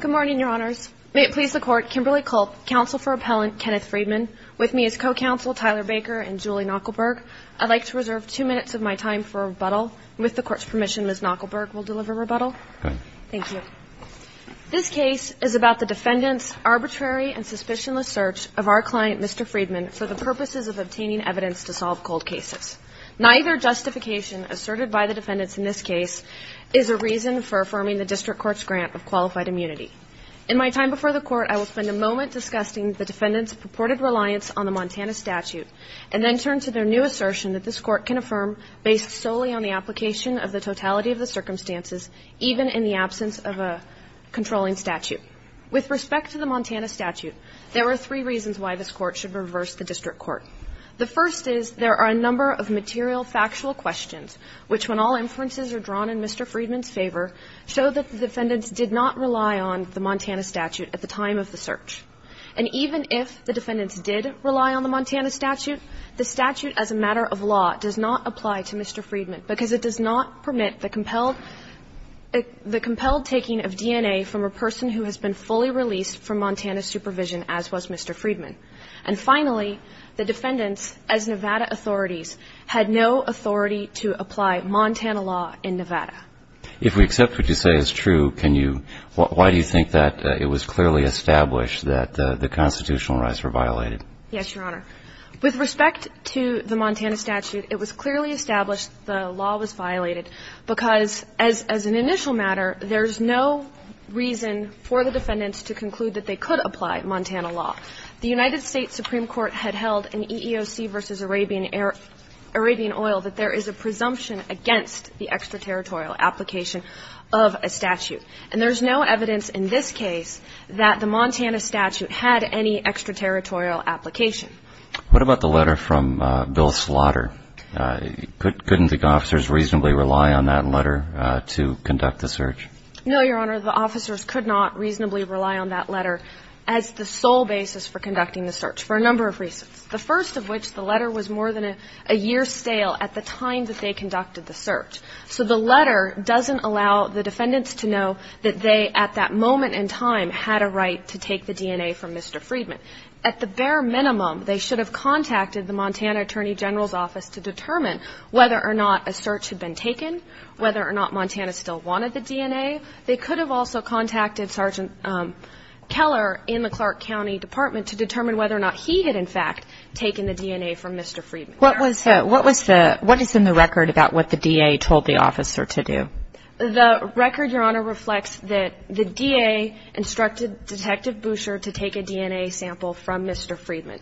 Good morning, Your Honors. May it please the Court, Kimberly Culp, Counsel for Appellant Kenneth Freedman. With me is Co-Counsel Tyler Baker and Julie Knuckleburg. I'd like to reserve two minutes of my time for rebuttal. With the Court's permission, Ms. Knuckleburg will deliver rebuttal. Good. Thank you. This case is about the defendant's arbitrary and suspicionless search of our client, Mr. Freedman, for the purposes of obtaining evidence to solve cold cases. Neither justification asserted by the defendants in this case is a reason for affirming the District Court's grant of qualified immunity. In my time before the Court, I will spend a moment discussing the defendants' purported reliance on the Montana statute and then turn to their new assertion that this Court can affirm based solely on the application of the totality of the circumstances, even in the absence of a controlling statute. With respect to the Montana statute, there are three reasons why this Court should reverse the District Court. The first is there are a number of material factual questions which, when all inferences are drawn in Mr. Freedman's favor, show that the defendants did not rely on the Montana statute at the time of the search. And even if the defendants did rely on the Montana statute, the statute as a matter of law does not apply to Mr. Freedman, because it does not permit the compelled taking of DNA from a person who has been fully released from Montana supervision, as was Mr. Freedman. And finally, the defendants, as Nevada authorities, had no authority to apply Montana law in Nevada. If we accept what you say is true, can you why do you think that it was clearly established that the constitutional rights were violated? Yes, Your Honor. With respect to the Montana statute, it was clearly established the law was violated, because as an initial matter, there's no reason for the defendants to conclude that they could apply Montana law. The United States Supreme Court had held in EEOC v. Arabian Oil that there is a presumption against the extraterritorial application of a statute. And there's no evidence in this case that the Montana statute had any extraterritorial application. What about the letter from Bill Slaughter? Couldn't the officers reasonably rely on that letter to conduct the search? No, Your Honor. The officers could not reasonably rely on that letter as the sole basis for conducting the search, for a number of reasons. The first of which, the letter was more than a year stale at the time that they conducted the search. So the letter doesn't allow the defendants to know that they, at that moment in time, had a right to take the DNA from Mr. Freedman. At the bare minimum, they should have contacted the Montana Attorney General's Office to determine whether or not a search had been taken, whether or not Montana still wanted the DNA. They could have also contacted Sergeant Keller in the Clark County Department to determine whether or not he had, in fact, taken the DNA from Mr. Freedman. What is in the record about what the DA told the officer to do? The record, Your Honor, reflects that the DA instructed Detective Boucher to take a DNA sample from Mr. Freedman.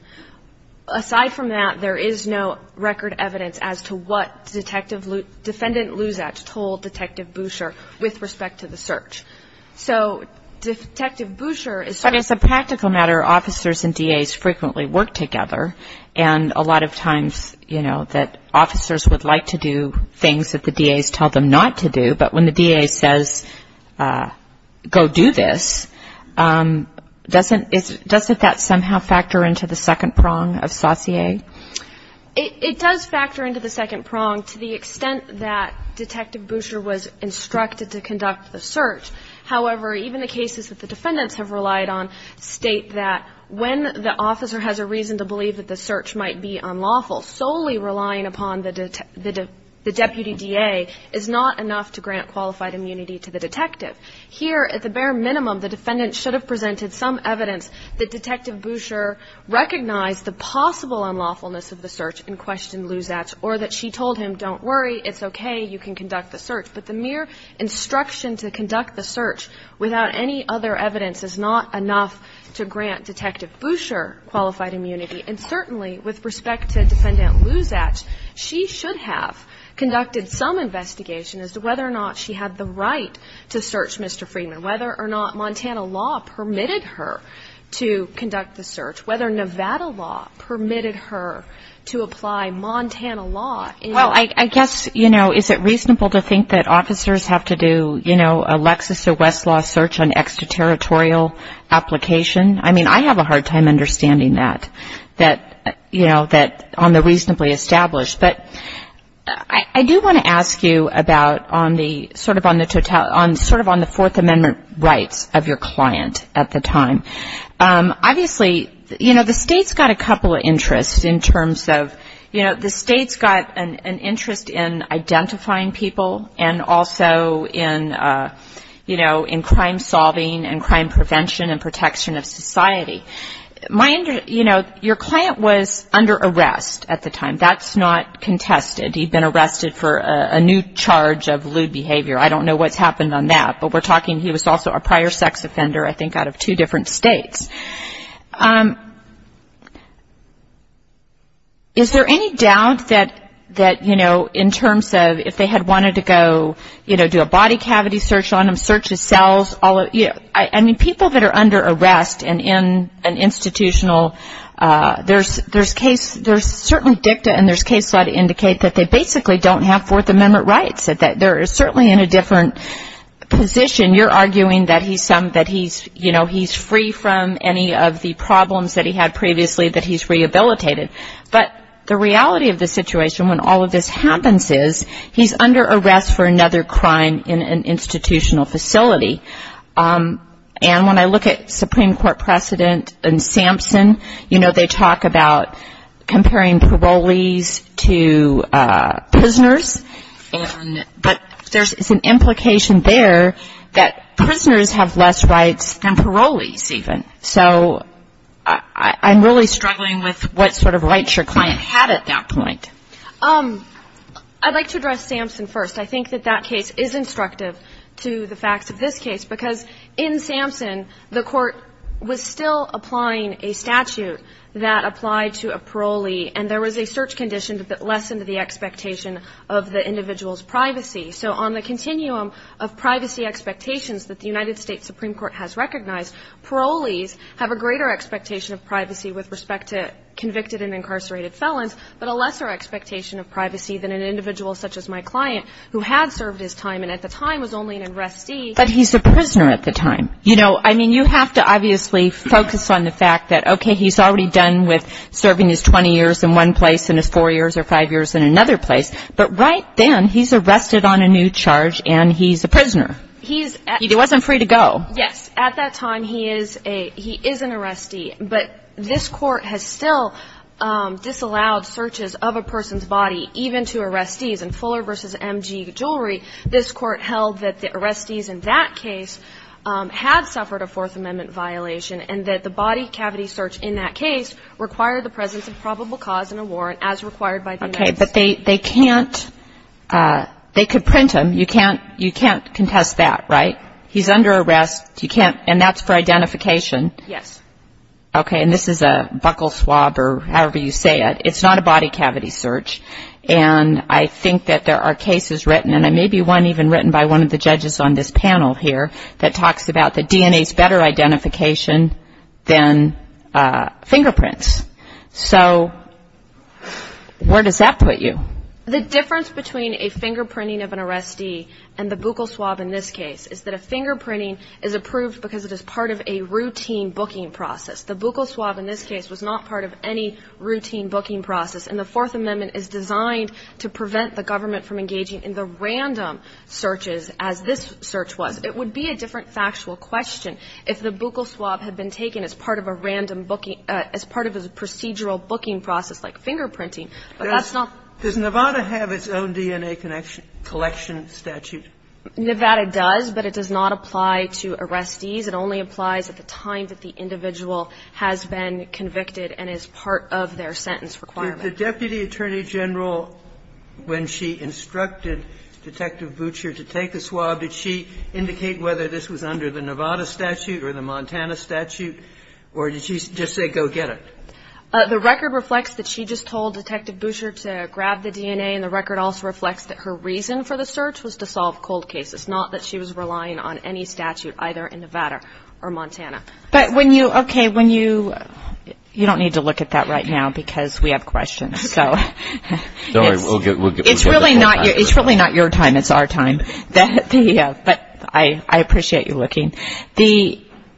Aside from that, there is no record evidence as to what Defendant Luzach told Detective Boucher with respect to the search. So Detective Boucher is sort of- But as a practical matter, officers and DAs frequently work together, and a lot of times, you know, that officers would like to do things that the DAs tell them not to do, but when the DA says, go do this, doesn't that somehow factor into the second prong of saucier? It does factor into the second prong to the extent that Detective Boucher was instructed to conduct the search. However, even the cases that the defendants have relied on state that when the officer has a reason to believe that the search might be unlawful, solely relying upon the deputy DA is not enough to grant qualified immunity to the detective. Here, at the bare minimum, the defendant should have presented some evidence that Detective Boucher recognized the possible unlawfulness of the search and questioned Luzach or that she told him, don't worry, it's okay, you can conduct the search. But the mere instruction to conduct the search without any other evidence is not enough to grant Detective Boucher qualified immunity. And certainly, with respect to Defendant Luzach, she should have conducted some investigation as to whether or not she had the right to search Mr. Friedman, whether or not Montana law permitted her to conduct the search, whether Nevada law permitted her to apply Montana law. Well, I guess, you know, is it reasonable to think that officers have to do, you know, a Lexis or Westlaw search on extraterritorial application? I mean, I have a hard time understanding that, you know, on the reasonably established. But I do want to ask you about on the sort of on the Fourth Amendment rights of your client at the time. Obviously, you know, the State's got a couple of interests in terms of, you know, the State's got an interest in identifying people and also in, you know, in crime solving and crime prevention and protection of society. You know, your client was under arrest at the time. That's not contested. He'd been arrested for a new charge of lewd behavior. I don't know what's happened on that. But we're talking he was also a prior sex offender, I think, out of two different states. Is there any doubt that, you know, in terms of if they had wanted to go, you know, do a body cavity search on him, search his cells, all of it? I mean, people that are under arrest and in an institutional, there's certainly dicta and there's case law to indicate that they basically don't have Fourth Amendment rights, that they're certainly in a different position. You're arguing that he's, you know, he's free from any of the problems that he had previously, that he's rehabilitated. But the reality of the situation when all of this happens is he's under arrest for another crime in an institutional facility. And when I look at Supreme Court precedent in Sampson, you know, they talk about comparing parolees to prisoners. But there's an implication there that prisoners have less rights than parolees even. So I'm really struggling with what sort of rights your client had at that point. I'd like to address Sampson first. I think that that case is instructive to the facts of this case, because in Sampson the court was still applying a statute that applied to a parolee and there was a search condition that lessened the expectation of the individual's privacy. So on the continuum of privacy expectations that the United States Supreme Court has recognized, parolees have a greater expectation of privacy with respect to convicted and incarcerated felons, but a lesser expectation of privacy than an individual such as my client, who had served his time and at the time was only an arrestee. But he's a prisoner at the time. You know, I mean, you have to obviously focus on the fact that, okay, he's already done with serving his 20 years in one place and his four years or five years in another place, but right then he's arrested on a new charge and he's a prisoner. He wasn't free to go. Yes. At that time he is an arrestee. But this Court has still disallowed searches of a person's body, even to arrestees. In Fuller v. M.G. Jewelry, this Court held that the arrestees in that case had suffered a Fourth Amendment violation and that the body cavity search in that case required the presence of probable cause and a warrant as required by the United States. Okay. But they can't – they could print him. You can't contest that, right? He's under arrest. You can't – and that's for identification. Yes. Okay. And this is a buccal swab or however you say it. It's not a body cavity search. And I think that there are cases written, and maybe one even written by one of the judges on this panel here, that talks about the DNA's better identification than fingerprints. So where does that put you? The difference between a fingerprinting of an arrestee and the buccal swab in this case is that a fingerprinting is approved because it is part of a routine booking process. The buccal swab in this case was not part of any routine booking process. And the Fourth Amendment is designed to prevent the government from engaging in the random searches as this search was. It would be a different factual question if the buccal swab had been taken as part of a random booking – as part of a procedural booking process like fingerprinting. But that's not the case. Does Nevada have its own DNA collection statute? Nevada does, but it does not apply to arrestees. It only applies at the time that the individual has been convicted and is part of their sentence requirement. Did the Deputy Attorney General, when she instructed Detective Boucher to take the swab, did she indicate whether this was under the Nevada statute or the Montana statute, or did she just say go get it? The record reflects that she just told Detective Boucher to grab the DNA, and the record also reflects that her reason for the search was to solve cold cases, not that she was relying on any statute either in Nevada or Montana. But when you – okay, when you – you don't need to look at that right now because we have questions. So it's really not your time. It's our time. But I appreciate you looking.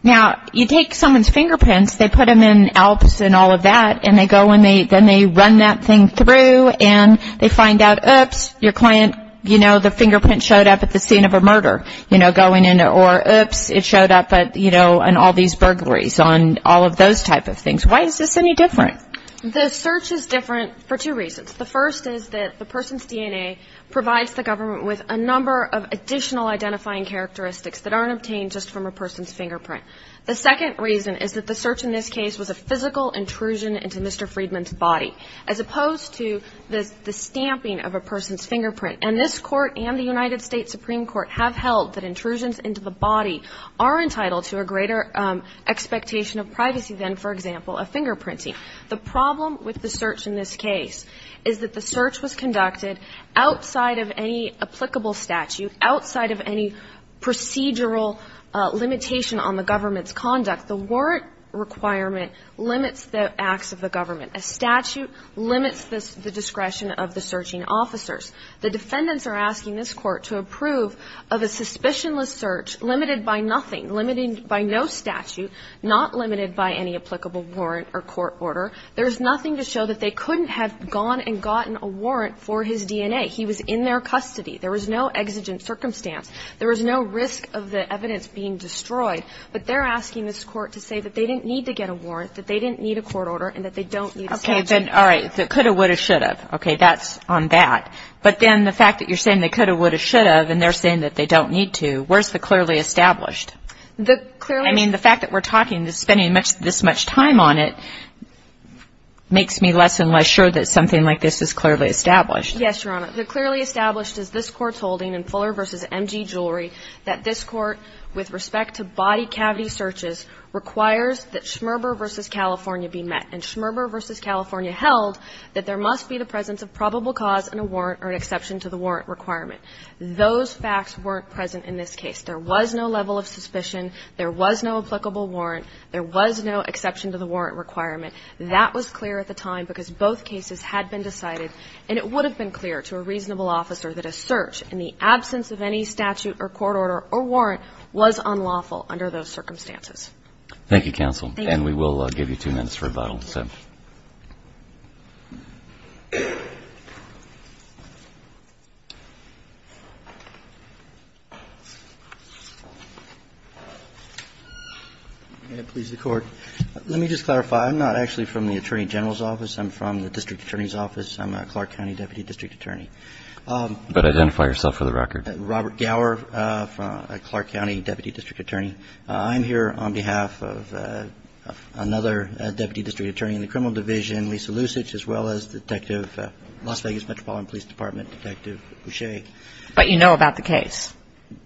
Now, you take someone's fingerprints, they put them in ALPS and all of that, and they go and they run that thing through, and they find out, oops, your client, you know, the fingerprint showed up at the scene of a murder. You know, going into – or oops, it showed up at, you know, in all these burglaries on all of those type of things. Why is this any different? The search is different for two reasons. The first is that the person's DNA provides the government with a number of additional identifying characteristics that aren't obtained just from a person's fingerprint. The second reason is that the search in this case was a physical intrusion into Mr. Friedman's body, as opposed to the stamping of a person's fingerprint. And this Court and the United States Supreme Court have held that intrusions into the body are entitled to a greater expectation of privacy than, for example, a fingerprinting. The problem with the search in this case is that the search was conducted outside of any applicable statute, outside of any procedural limitation on the government's conduct. The warrant requirement limits the acts of the government. A statute limits the discretion of the searching officers. The defendants are asking this Court to approve of a suspicionless search limited by nothing, limited by no statute, not limited by any applicable warrant or court order. There is nothing to show that they couldn't have gone and gotten a warrant for his He was in their custody. There was no exigent circumstance. There was no risk of the evidence being destroyed. But they're asking this Court to say that they didn't need to get a warrant, that they didn't need a court order, and that they don't need a statute. Okay. Then, all right. The could have, would have, should have. Okay. That's on that. But then the fact that you're saying they could have, would have, should have, and they're saying that they don't need to, where's the clearly established? The clearly established. I mean, the fact that we're talking, spending this much time on it makes me less and less sure that something like this is clearly established. Yes, Your Honor. The clearly established is this Court's holding in Fuller v. M.G. Jewelry that this Court, with respect to body cavity searches, requires that Schmerber v. California be met. And Schmerber v. California held that there must be the presence of probable cause in a warrant or an exception to the warrant requirement. Those facts weren't present in this case. There was no level of suspicion. There was no applicable warrant. There was no exception to the warrant requirement. That was clear at the time because both cases had been decided, and it would have been clear to a reasonable officer that a search in the absence of any statute or court order or warrant was unlawful under those circumstances. Thank you, counsel. Thank you. And we will give you two minutes for rebuttal. May it please the Court. Let me just clarify. I'm not actually from the Attorney General's office. I'm from the district attorney's office. I'm a Clark County deputy district attorney. But identify yourself for the record. Robert Gower, a Clark County deputy district attorney. I'm here on behalf of another deputy district attorney in the criminal division, Lisa Lusich, as well as Detective Las Vegas Metropolitan Police Department Detective Boucher. But you know about the case.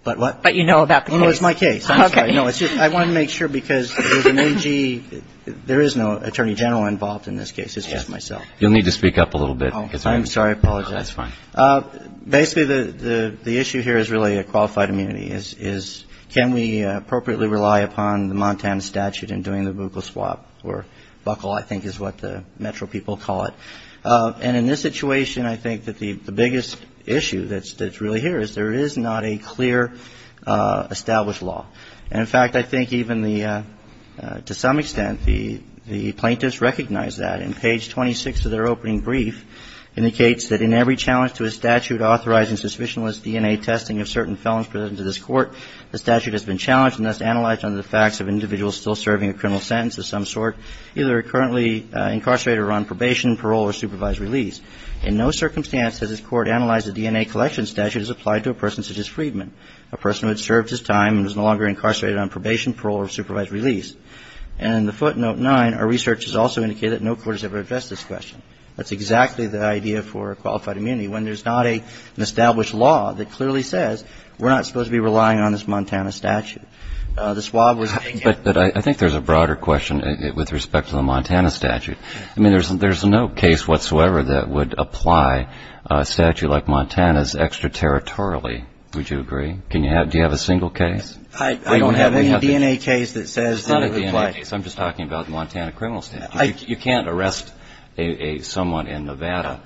But what? But you know about the case. Oh, no, it's my case. I'm sorry. Okay. No, it's just I wanted to make sure because there's an M.G. There is no Attorney General involved in this case. It's just myself. You'll need to speak up a little bit. I'm sorry. I apologize. That's fine. Basically, the issue here is really a qualified immunity. Can we appropriately rely upon the Montana statute in doing the buccal swap? Or buccal, I think, is what the metro people call it. And in this situation, I think that the biggest issue that's really here is there is not a clear established law. And, in fact, I think even the to some extent, the plaintiffs recognize that. And page 26 of their opening brief indicates that in every challenge to a statute authorizing suspicionless DNA testing of certain felons presented to this court, the statute has been challenged and thus analyzed under the facts of individuals still serving a criminal sentence of some sort, either currently incarcerated or on probation, parole, or supervised release. In no circumstance has this court analyzed a DNA collection statute as applied to a person such as Friedman, a person who had served his time and was no longer incarcerated on probation, parole, or supervised release. And in the footnote 9, our research has also indicated that no court has ever addressed this question. That's exactly the idea for qualified immunity, when there's not an established law that clearly says we're not supposed to be relying on this Montana statute. The swap was against it. But I think there's a broader question with respect to the Montana statute. I mean, there's no case whatsoever that would apply a statute like Montana's extraterritorially. Would you agree? Do you have a single case? I don't have any DNA case that says that it would apply. It's not a DNA case. I'm just talking about the Montana criminal statute. You can't arrest someone in Nevada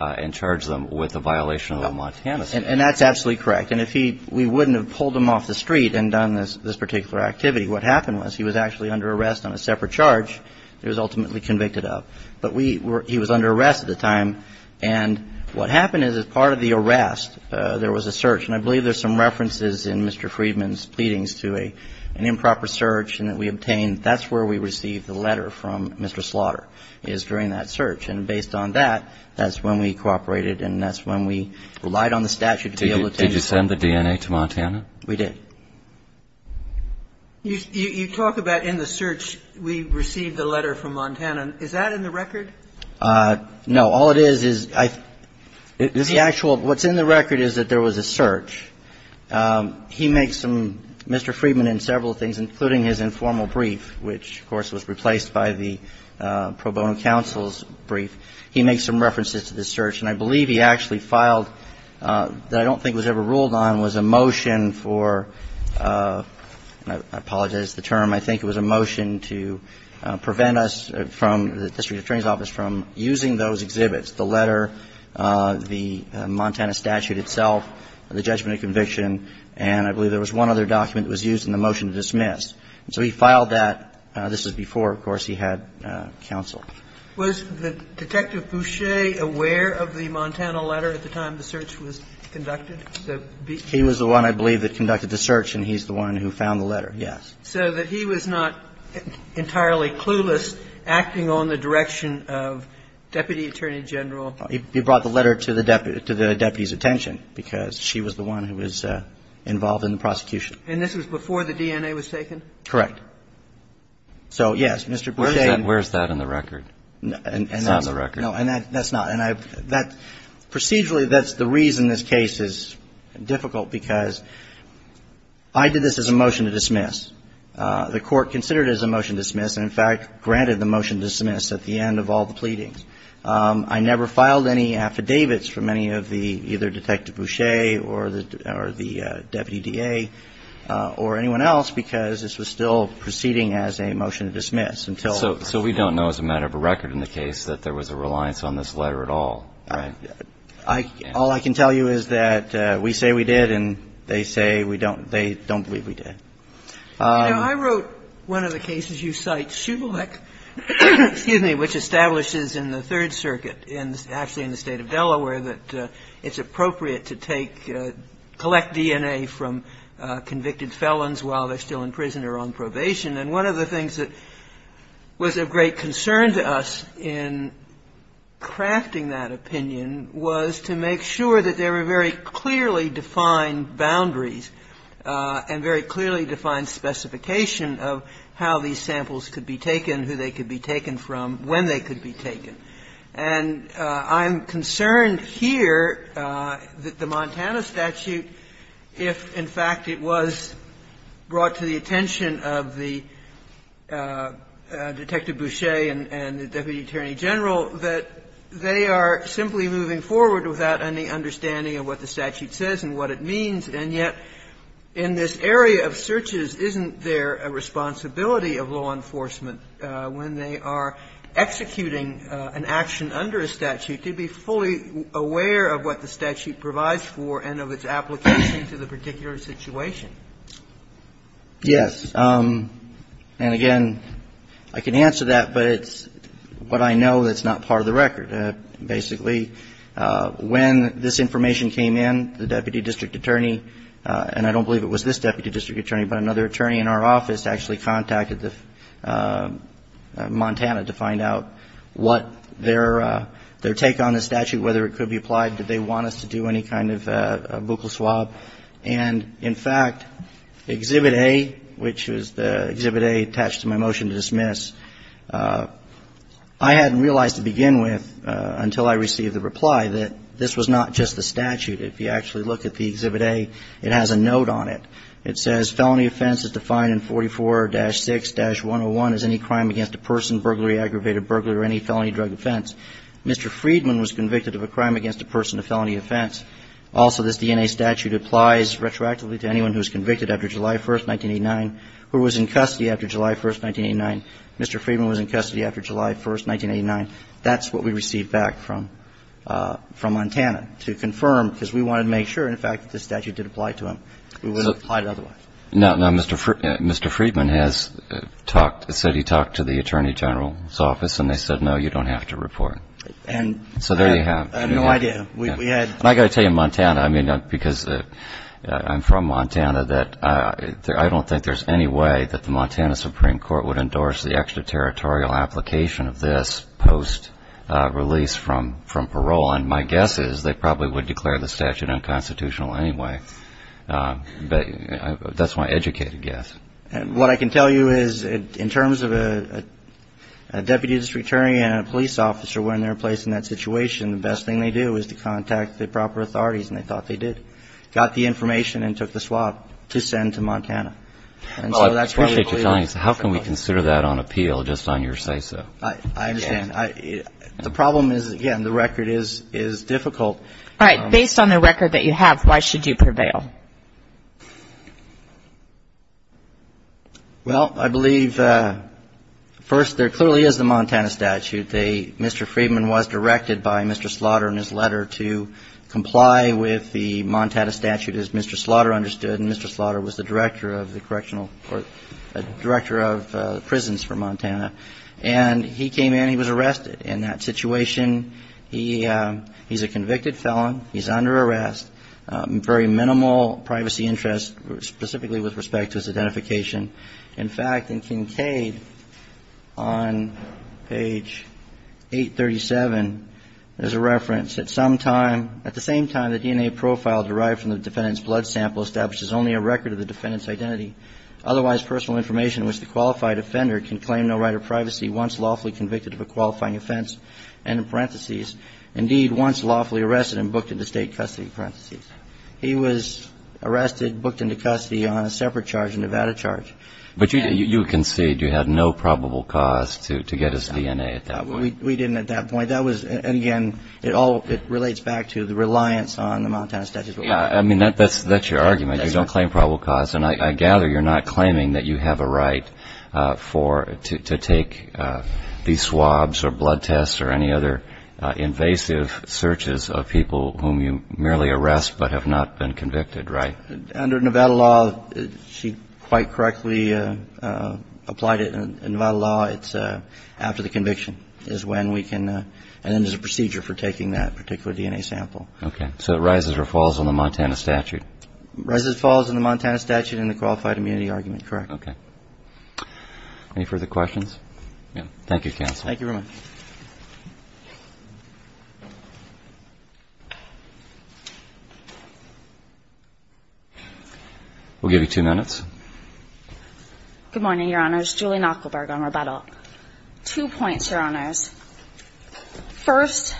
and charge them with a violation of the Montana statute. And that's absolutely correct. And we wouldn't have pulled him off the street and done this particular activity. What happened was he was actually under arrest on a separate charge that he was ultimately convicted of. But he was under arrest at the time. And what happened is, as part of the arrest, there was a search. And I believe there's some references in Mr. Friedman's pleadings to an improper search and that we obtained. That's where we received the letter from Mr. Slaughter, is during that search. And based on that, that's when we cooperated and that's when we relied on the statute to be able to take the case. Did you send the DNA to Montana? We did. You talk about in the search we received the letter from Montana. Is that in the record? No. All it is, is the actual, what's in the record is that there was a search. He makes some, Mr. Friedman in several things, including his informal brief, which, of course, was replaced by the pro bono counsel's brief, he makes some references to this search. And I believe he actually filed, that I don't think was ever ruled on, was a motion for, and I apologize for the term, I think it was a motion to prevent us from, the District Attorney's Office, from using those exhibits, the letter, the Montana statute itself, the judgment of conviction, and I believe there was one other document that was used in the motion to dismiss. So he filed that. This was before, of course, he had counsel. Was Detective Boucher aware of the Montana letter at the time the search was conducted? He was the one, I believe, that conducted the search and he's the one who found the letter, yes. So that he was not entirely clueless acting on the direction of Deputy Attorney General? He brought the letter to the deputy's attention because she was the one who was involved in the prosecution. And this was before the DNA was taken? Correct. So, yes, Mr. Boucher. Where's that in the record? It's not in the record. No, and that's not, and I, that, procedurally, that's the reason this case is difficult because I did this as a motion to dismiss. The Court considered it as a motion to dismiss and, in fact, granted the motion to dismiss at the end of all the pleadings. I never filed any affidavits from any of the, either Detective Boucher or the Deputy DA or anyone else because this was still proceeding as a motion to dismiss until. So we don't know as a matter of record in the case that there was a reliance on this letter at all, right? All I can tell you is that we say we did and they say we don't, they don't believe we did. You know, I wrote one of the cases you cite, Shublec, excuse me, which establishes in the Third Circuit, actually in the State of Delaware, that it's appropriate to take, collect DNA from convicted felons while they're still in prison or on probation. And one of the things that was of great concern to us in crafting that opinion was to make sure that there were very clearly defined boundaries and very clearly defined specification of how these samples could be taken, who they could be taken from, when they could be taken. And I'm concerned here that the Montana statute, if, in fact, it was brought to the attention of the Detective Boucher and the Deputy Attorney General, that they are simply moving forward without any understanding of what the statute says and what it means. And yet, in this area of searches, isn't there a responsibility of law enforcement when they are executing an action under a statute to be fully aware of what the statute provides for and of its application to the particular situation? Yes. And again, I can answer that, but it's what I know that's not part of the record, basically. When this information came in, the Deputy District Attorney, and I don't believe it was this Deputy District Attorney, but another attorney in our office actually contacted Montana to find out what their take on the statute, whether it could be applied, did they want us to do any kind of buccal swab. And, in fact, Exhibit A, which was the Exhibit A attached to my motion to dismiss, I hadn't realized to begin with, until I received the reply, that this was not just the statute. If you actually look at the Exhibit A, it has a note on it. It says, felony offense is defined in 44-6-101 as any crime against a person, burglary, aggravated burglary, or any felony drug offense. Mr. Friedman was convicted of a crime against a person in a felony offense. Also, this DNA statute applies retroactively to anyone who is convicted after July 1, 1989, who was in custody after July 1, 1989. Mr. Friedman was in custody after July 1, 1989. That's what we received back from Montana to confirm, because we wanted to make sure, in fact, that this statute did apply to him. We wouldn't have applied it otherwise. Now, Mr. Friedman has talked, said he talked to the Attorney General's office, and they said, no, you don't have to report. And I have no idea. I got to tell you, Montana, I mean, because I'm from Montana, that I don't think there's any way that the Montana Supreme Court would endorse the extraterritorial application of this post-release from parole. And my guess is they probably would declare the statute unconstitutional anyway. But that's my educated guess. What I can tell you is, in terms of a deputy district attorney and a police officer when they're placed in that situation, the best thing they do is to contact the proper authorities, and they thought they did. Got the information and took the swab to send to Montana. And so that's what we believe. Well, I appreciate you telling us. How can we consider that on appeal, just on your say-so? I understand. The problem is, again, the record is difficult. All right. Based on the record that you have, why should you prevail? Well, I believe, first, there clearly is the Montana statute. Mr. Friedman was directed by Mr. Slaughter in his letter to comply with the Montana statute, as Mr. Slaughter understood. And Mr. Slaughter was the director of the correctional court, director of prisons for Montana. And he came in, he was arrested in that situation. He's a convicted felon. He's under arrest. Very minimal privacy interest, specifically with respect to his identification. In fact, in Kincaid, on page 837, there's a reference. At the same time, the DNA profile derived from the defendant's blood sample establishes only a record of the defendant's identity. Otherwise, personal information in which the qualified offender can claim no right of privacy once lawfully convicted of a qualifying offense, end in parentheses, indeed once lawfully arrested and booked into state custody, parentheses. He was arrested, booked into custody on a separate charge, a Nevada charge. But you conceded you had no probable cause to get his DNA at that point. We didn't at that point. That was, again, it relates back to the reliance on the Montana statute. I mean, that's your argument. You don't claim probable cause. And I gather you're not claiming that you have a right to take these swabs or blood tests or any other invasive searches of people whom you merely arrest but have not been convicted, right? Under Nevada law, she quite correctly applied it. In Nevada law, it's after the conviction is when we can, and then there's a procedure for taking that particular DNA sample. Okay. So it rises or falls on the Montana statute? Rises, falls on the Montana statute and the qualified immunity argument, correct. Okay. Any further questions? Thank you, counsel. We'll give you two minutes. Good morning, Your Honors. Julie Knuckleberg on rebuttal. Two points, Your Honors. First,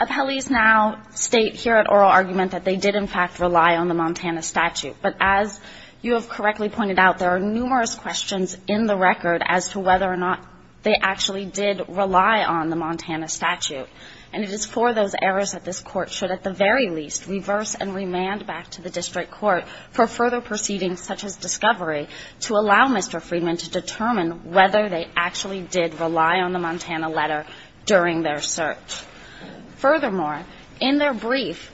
appellees now state here at oral argument that they did in fact rely on the Montana statute. But as you have correctly pointed out, there are numerous questions in the record as to whether or not they actually did rely on the Montana statute. And it is for those errors that this Court should at the very least reverse and remand back to the district court for further proceedings such as discovery to allow Mr. Friedman to determine whether they actually did rely on the Montana letter during their search. Furthermore, in their brief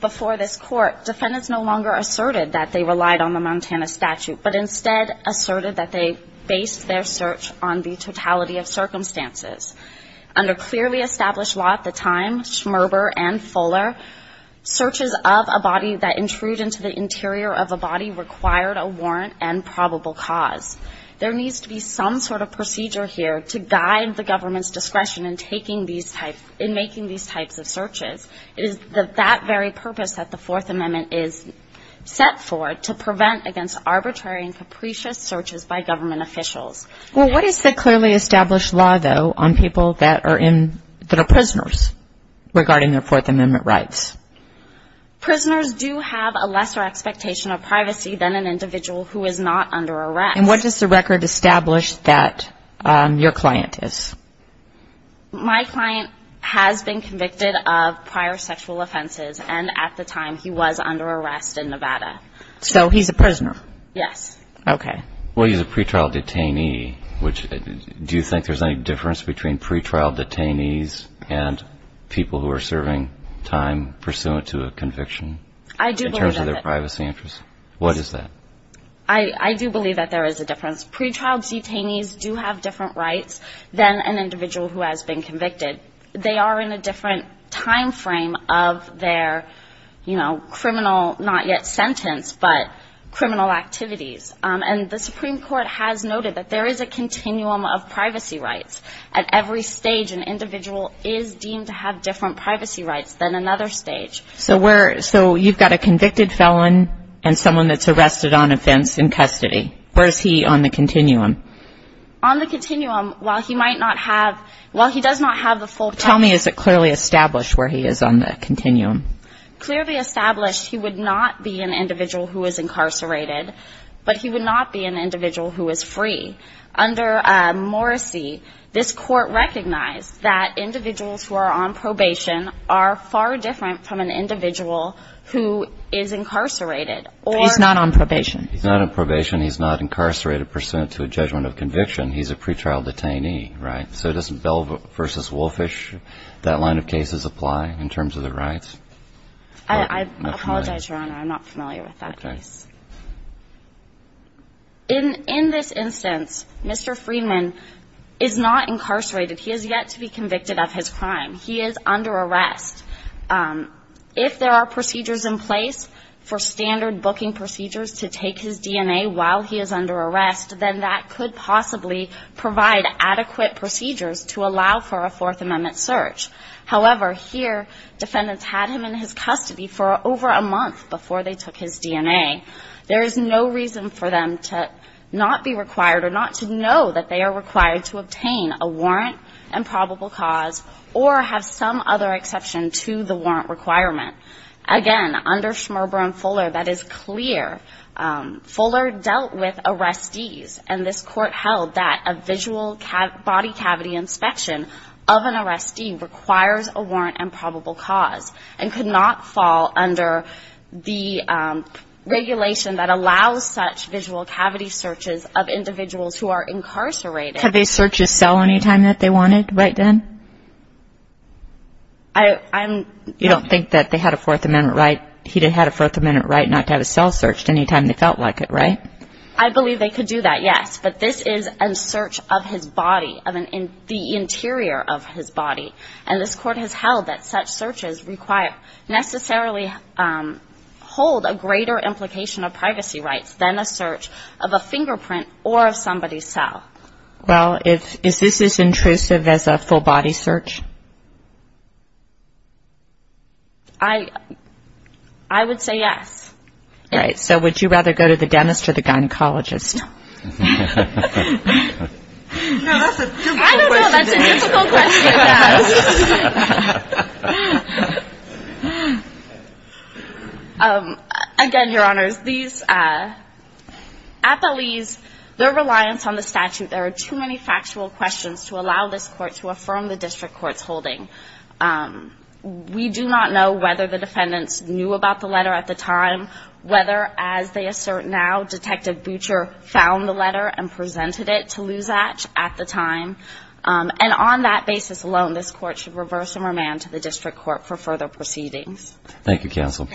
before this Court, defendants no longer asserted that they relied on the Montana statute, but instead asserted that they based their search on the totality of circumstances. Under clearly established law at the time, Schmerber and Fuller, searches of a body that intrude into the interior of a body required a warrant and probable cause. There needs to be some sort of procedure here to guide the government's discretion in making these types of searches. It is that very purpose that the Fourth Amendment is set for, to prevent against arbitrary and capricious searches by government officials. Well, what is the clearly established law, though, on people that are prisoners regarding their Fourth Amendment rights? Prisoners do have a lesser expectation of privacy than an individual who is not under arrest. And what does the record establish that your client is? My client has been convicted of prior sexual offenses, and at the time he was under arrest in Nevada. So he's a prisoner? Yes. Okay. Well, he's a pretrial detainee. Do you think there's any difference between pretrial detainees and people who are serving time pursuant to a conviction in terms of their privacy interests? What is that? I do believe that there is a difference. Pretrial detainees do have different rights than an individual who has been convicted. They are in a different time frame of their, you know, criminal, not yet sentenced, but criminal activities. And the Supreme Court has noted that there is a continuum of privacy rights. At every stage, an individual is deemed to have different privacy rights than another stage. So you've got a convicted felon and someone that's arrested on offense in custody. Where is he on the continuum? On the continuum, while he might not have, while he does not have the full time. Tell me, is it clearly established where he is on the continuum? Clearly established, he would not be an individual who is incarcerated, but he would not be an individual who is free. Under Morrissey, this Court recognized that individuals who are on probation are far different from an individual who is incarcerated. He's not on probation. He's not on probation. He's not incarcerated pursuant to a judgment of conviction. He's a pretrial detainee. Right? So doesn't Bell v. Wolfish, that line of cases apply in terms of the rights? I apologize, Your Honor, I'm not familiar with that case. In this instance, Mr. Freeman is not incarcerated. He is yet to be convicted of his crime. He is under arrest. If there are procedures in place for standard booking procedures to take his DNA while he is under arrest, then that could possibly provide adequate procedures to allow for a Fourth Amendment search. However, here, defendants had him in his custody for over a month before they took his DNA. There is no reason for them to not be required or not to know that they are required to obtain a warrant and probable cause or have some other exception to the warrant requirement. Again, under Schmerber and Fuller, that is clear. Fuller dealt with arrestees, and this court held that a visual body cavity inspection of an arrestee requires a warrant and probable cause and could not fall under the regulation that allows such visual cavity searches of individuals who are incarcerated. Could they search his cell any time that they wanted right then? You don't think that he had a Fourth Amendment right not to have his cell searched any time they felt like it, right? I believe they could do that, yes, but this is a search of his body, the interior of his body, and this court has held that such searches necessarily hold a greater implication of privacy rights than a search of a fingerprint or of somebody's cell. Is this as intrusive as a full body search? I would say yes. All right. So would you rather go to the dentist or the gynecologist? No. Again, Your Honors, these appellees, their reliance on the statute, there are too many factual questions to allow this court to affirm the district court's holding. We do not know whether the defendants knew about the letter at the time, whether, as they assert now, Detective Butcher found the letter and presented it to Luzach at the time. And on that basis alone, this court should reverse and remand to the district court for further proceedings. Thank you, Counsel.